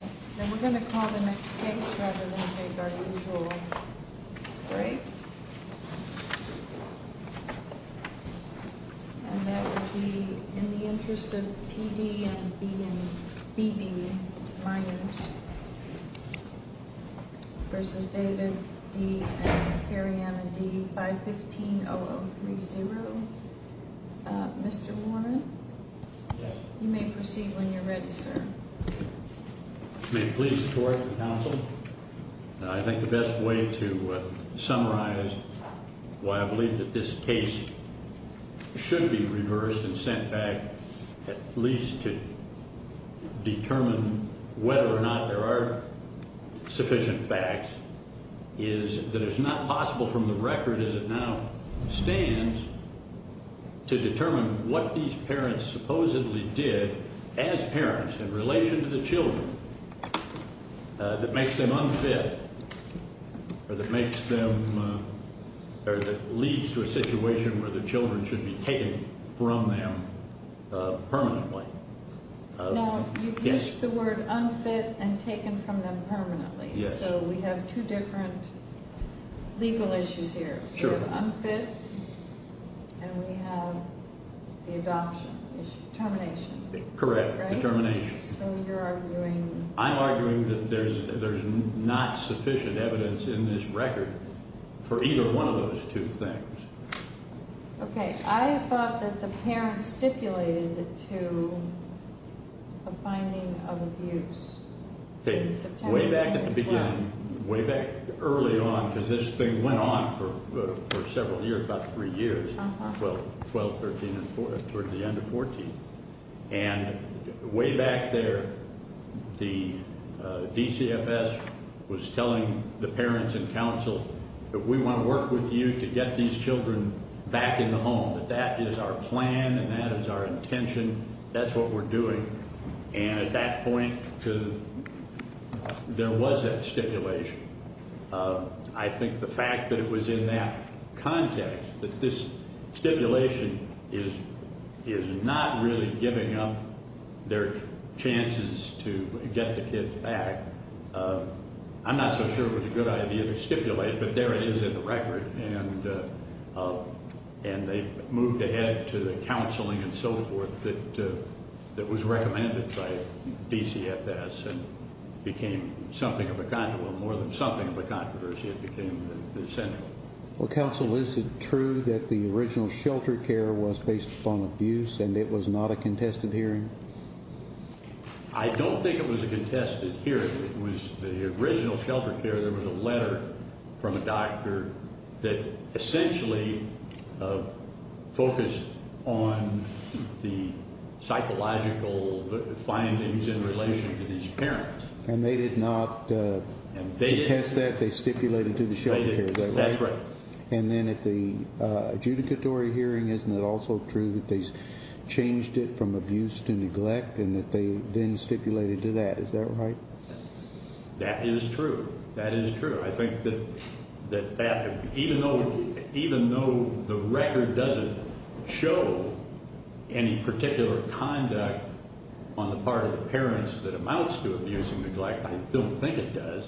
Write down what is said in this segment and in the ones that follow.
And that would be in the interest of T.D. and B.D., minors, versus David, D., and Kariana, D., 515-0030. Mr. Warren? Yes. You may proceed when you're ready, sir. May it please the Court and Counsel, I think the best way to summarize why I believe that this case should be reversed and sent back at least to determine whether or not there are sufficient facts is that it's not possible from the record as it now stands to determine what these parents supposedly did as parents in relation to the children that makes them unfit or that leads to a situation where the children should be taken from them permanently. Now, you've used the word unfit and taken from them permanently. Yes. So we have two different legal issues here. Sure. We have unfit and we have the adoption issue, termination. Correct. Right? Determination. So you're arguing... I'm arguing that there's not sufficient evidence in this record for either one of those two things. Okay. I thought that the parents stipulated to a finding of abuse. Way back at the beginning, way back early on, because this thing went on for several years, about three years, 12, 13, and 14, toward the end of 14. And way back there, the DCFS was telling the parents and counsel that we want to work with you to get these children back in the home, that that is our plan and that is our intention. That's what we're doing. And at that point, there was that stipulation. I think the fact that it was in that context, that this stipulation is not really giving up their chances to get the kids back. I'm not so sure it was a good idea to stipulate, but there it is in the record. And they moved ahead to the counseling and so forth that was recommended by DCFS and became something of a controversy. Well, more than something of a controversy, it became central. Well, counsel, is it true that the original shelter care was based upon abuse and it was not a contested hearing? I don't think it was a contested hearing. It was the original shelter care. There was a letter from a doctor that essentially focused on the psychological findings in relation to these parents. And they did not contest that. They stipulated to the shelter care, is that right? That's right. And then at the adjudicatory hearing, isn't it also true that they changed it from abuse to neglect and that they then stipulated to that, is that right? That is true. That is true. I think that even though the record doesn't show any particular conduct on the part of the parents that amounts to abuse and neglect, I don't think it does,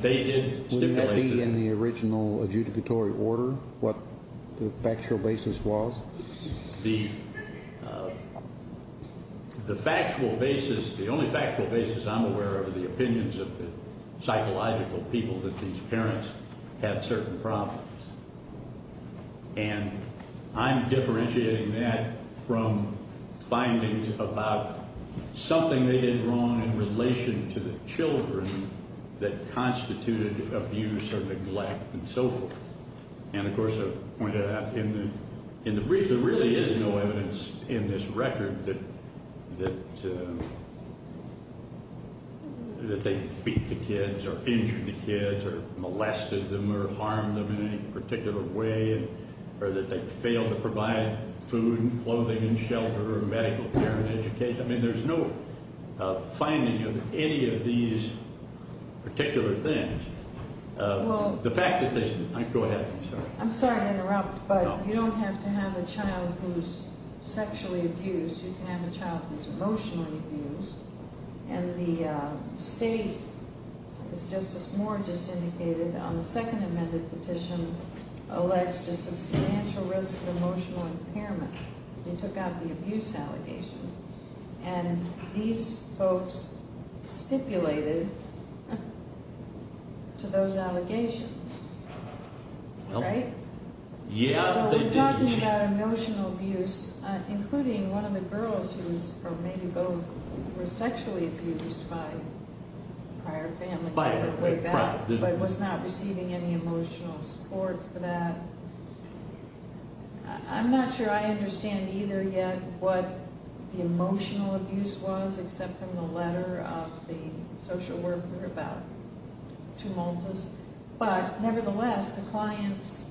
they did stipulate to them. Would that be in the original adjudicatory order, what the factual basis was? The factual basis, the only factual basis I'm aware of are the opinions of the psychological people that these parents had certain problems. And I'm differentiating that from findings about something they did wrong in relation to the children that constituted abuse or neglect and so forth. And, of course, I pointed out in the brief there really is no evidence in this record that they beat the kids or injured the kids or molested them or harmed them in any particular way or that they failed to provide food and clothing and shelter or medical care and education. I mean there's no finding of any of these particular things. The factual basis, go ahead. I'm sorry to interrupt, but you don't have to have a child who's sexually abused, you can have a child who's emotionally abused. And the state, as Justice Moore just indicated, on the second amended petition, alleged a substantial risk of emotional impairment. They took out the abuse allegations. And these folks stipulated to those allegations, right? So we're talking about emotional abuse, including one of the girls who was, or maybe both, were sexually abused by a prior family member, but was not receiving any emotional support for that. I'm not sure I understand either yet what the emotional abuse was, except from the letter of the social worker about tumultus. But, nevertheless, the clients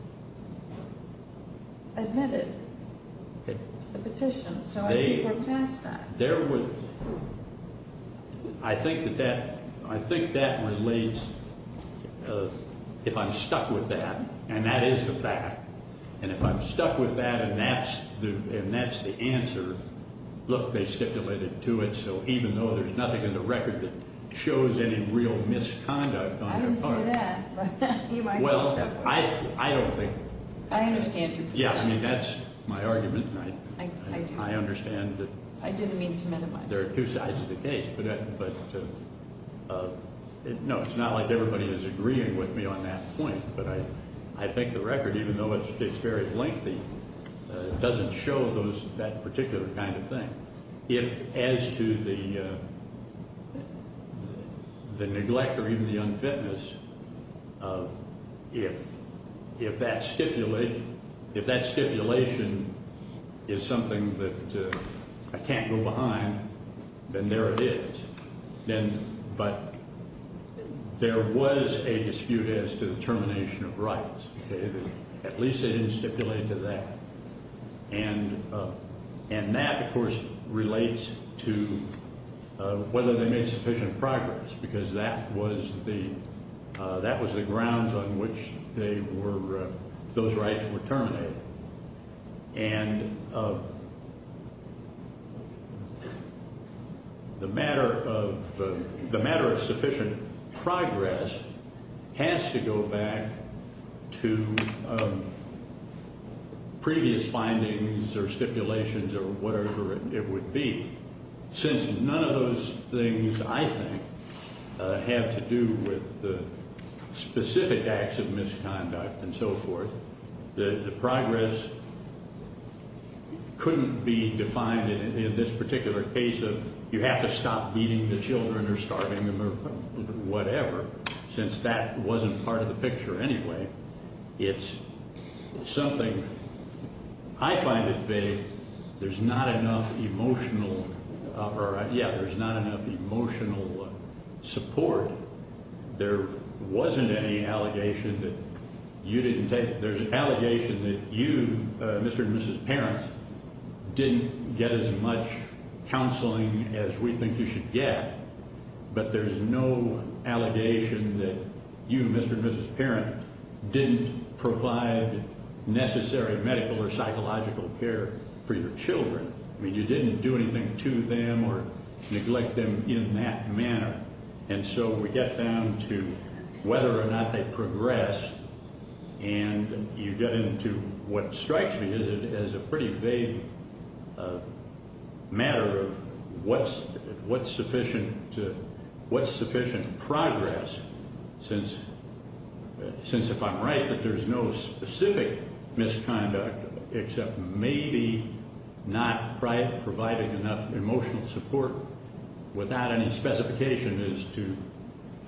admitted to the petition, so I think we're past that. There were, I think that that relates, if I'm stuck with that, and that is the fact, and if I'm stuck with that and that's the answer, look, they stipulated to it, so even though there's nothing in the record that shows any real misconduct on their part- I didn't say that, but you might be stuck with it. Well, I don't think- I understand your concerns. Yeah, I mean that's my argument, and I understand that- I didn't mean to minimize it. There are two sides of the case, but no, it's not like everybody is agreeing with me on that point, but I think the record, even though it's very lengthy, doesn't show that particular kind of thing. If, as to the neglect or even the unfitness, if that stipulation is something that I can't go behind, then there it is. But there was a dispute as to the termination of rights. At least it didn't stipulate to that. And that, of course, relates to whether they made sufficient progress because that was the grounds on which they were- those rights were terminated. And the matter of sufficient progress has to go back to previous findings or stipulations or whatever it would be. Since none of those things, I think, have to do with the specific acts of misconduct and so forth, the progress couldn't be defined in this particular case of you have to stop beating the children or starving them or whatever, since that wasn't part of the picture anyway. It's something- I find it vague. There's not enough emotional- yeah, there's not enough emotional support. There wasn't any allegation that you didn't take- there's an allegation that you, Mr. and Mrs. Parent, didn't get as much counseling as we think you should get, but there's no allegation that you, Mr. and Mrs. Parent, didn't provide necessary medical or psychological care for your children. I mean, you didn't do anything to them or neglect them in that manner. And so we get down to whether or not they progressed, and you get into what strikes me as a pretty vague matter of what's sufficient to- what's sufficient progress, since if I'm right, that there's no specific misconduct except maybe not providing enough emotional support without any specification as to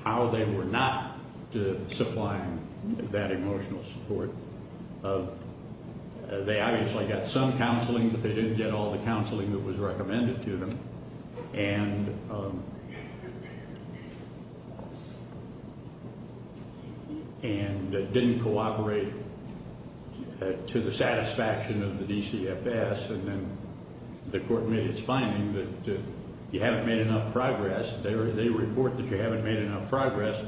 how they were not supplying that emotional support. They obviously got some counseling, but they didn't get all the counseling that was recommended to them and didn't cooperate to the satisfaction of the DCFS, and then the court made its finding that you haven't made enough progress. They report that you haven't made enough progress,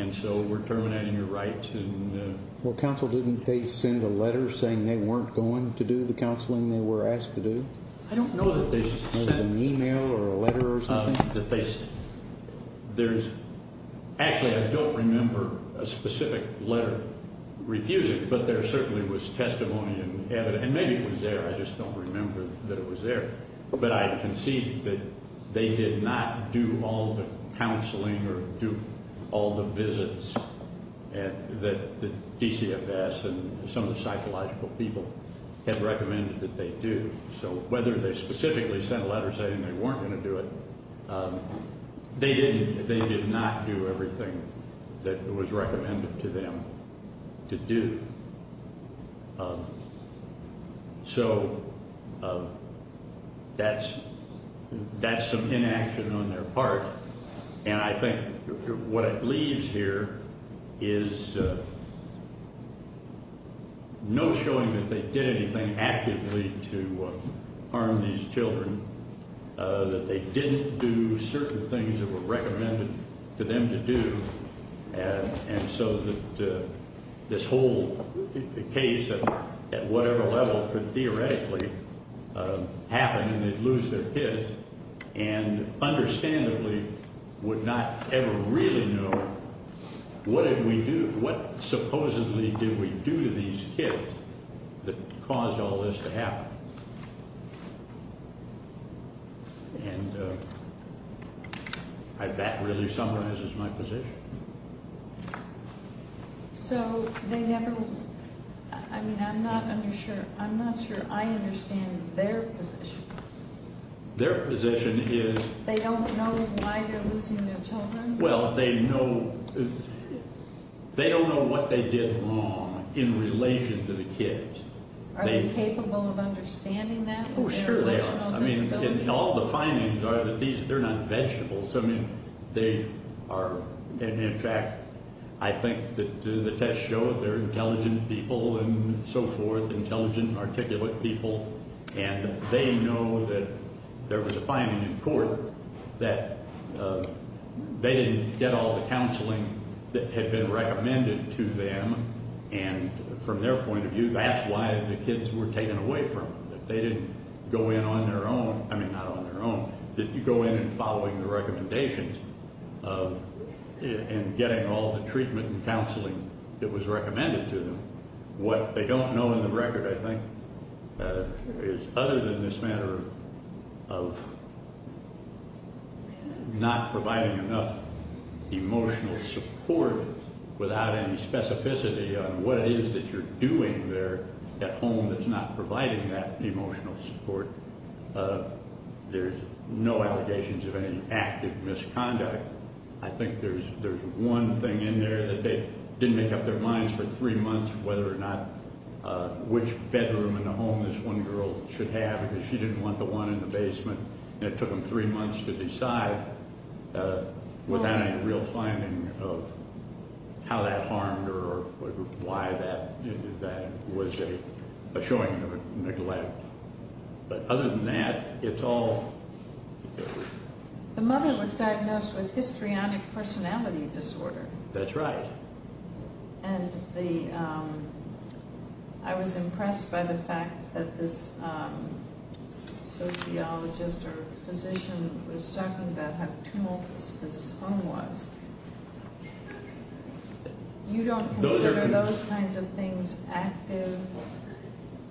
and so we're terminating your rights. Well, counsel, didn't they send a letter saying they weren't going to do the counseling they were asked to do? I don't know that they sent an e-mail or a letter or something. There's-actually, I don't remember a specific letter refusing, but there certainly was testimony and evidence, and maybe it was there, I just don't remember that it was there. But I concede that they did not do all the counseling or do all the visits that the DCFS and some of the psychological people had recommended that they do. So whether they specifically sent a letter saying they weren't going to do it, they did not do everything that was recommended to them to do. So that's some inaction on their part, and I think what it leaves here is no showing that they did anything actively to harm these children, that they didn't do certain things that were recommended to them to do, and so that this whole case at whatever level could theoretically happen and they'd lose their kids. And understandably would not ever really know what did we do, what supposedly did we do to these kids that caused all this to happen. And that really summarizes my position. So they never-I mean, I'm not sure I understand their position. Their position is- They don't know why they're losing their children? Well, they know-they don't know what they did wrong in relation to the kids. Are they capable of understanding that? Oh, sure they are. With their emotional disabilities? I mean, and all the findings are that these-they're not vegetables. I mean, they are-and in fact, I think that the tests show that they're intelligent people and so forth, intelligent, articulate people, and they know that there was a finding in court that they didn't get all the counseling that had been recommended to them, and from their point of view, that's why the kids were taken away from them, that they didn't go in on their own-I mean, not on their own, that you go in and following the recommendations and getting all the treatment and counseling that was recommended to them. What they don't know in the record, I think, is other than this matter of not providing enough emotional support without any specificity on what it is that you're doing there at home that's not providing that emotional support, there's no allegations of any active misconduct. I think there's one thing in there that they didn't make up their minds for three months whether or not which bedroom in the home this one girl should have because she didn't want the one in the basement, and it took them three months to decide without any real finding of how that harmed her or why that was a showing of neglect. But other than that, it's all- The mother was diagnosed with histrionic personality disorder. That's right. And I was impressed by the fact that this sociologist or physician was talking about how tumultuous this home was. You don't consider those kinds of things active,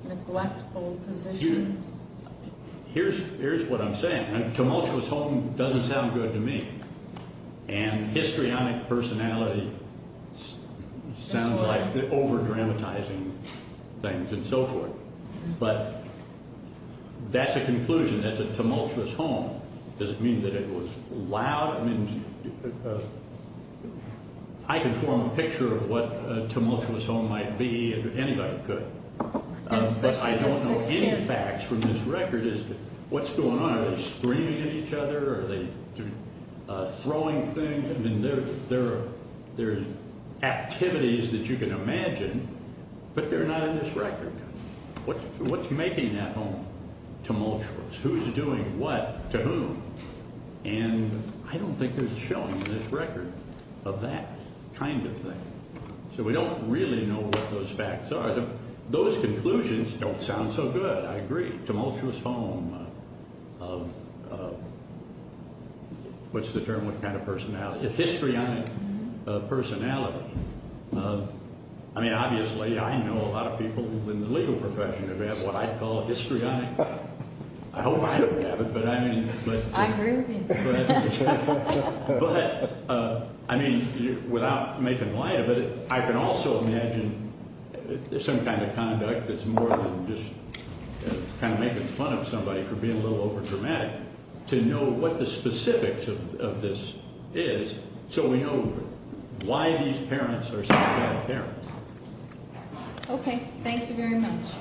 neglectful positions? Here's what I'm saying. A tumultuous home doesn't sound good to me, and histrionic personality sounds like over-dramatizing things and so forth. But that's a conclusion, that's a tumultuous home. Does it mean that it was loud? I can form a picture of what a tumultuous home might be if anybody could. But I don't know any facts from this record as to what's going on. Are they screaming at each other? Are they throwing things? I mean, there are activities that you can imagine, but they're not in this record. What's making that home tumultuous? Who's doing what to whom? And I don't think there's a showing in this record of that kind of thing. So we don't really know what those facts are. Those conclusions don't sound so good, I agree. Tumultuous home, what's the term, what kind of personality? Histrionic personality. I mean, obviously, I know a lot of people in the legal profession who have what I call histrionic. I hope I don't have it, but I mean. I agree with you. But, I mean, without making light of it, I can also imagine some kind of conduct that's more than just kind of making fun of somebody for being a little overdramatic, to know what the specifics of this is so we know why these parents are such bad parents. Okay, thank you very much.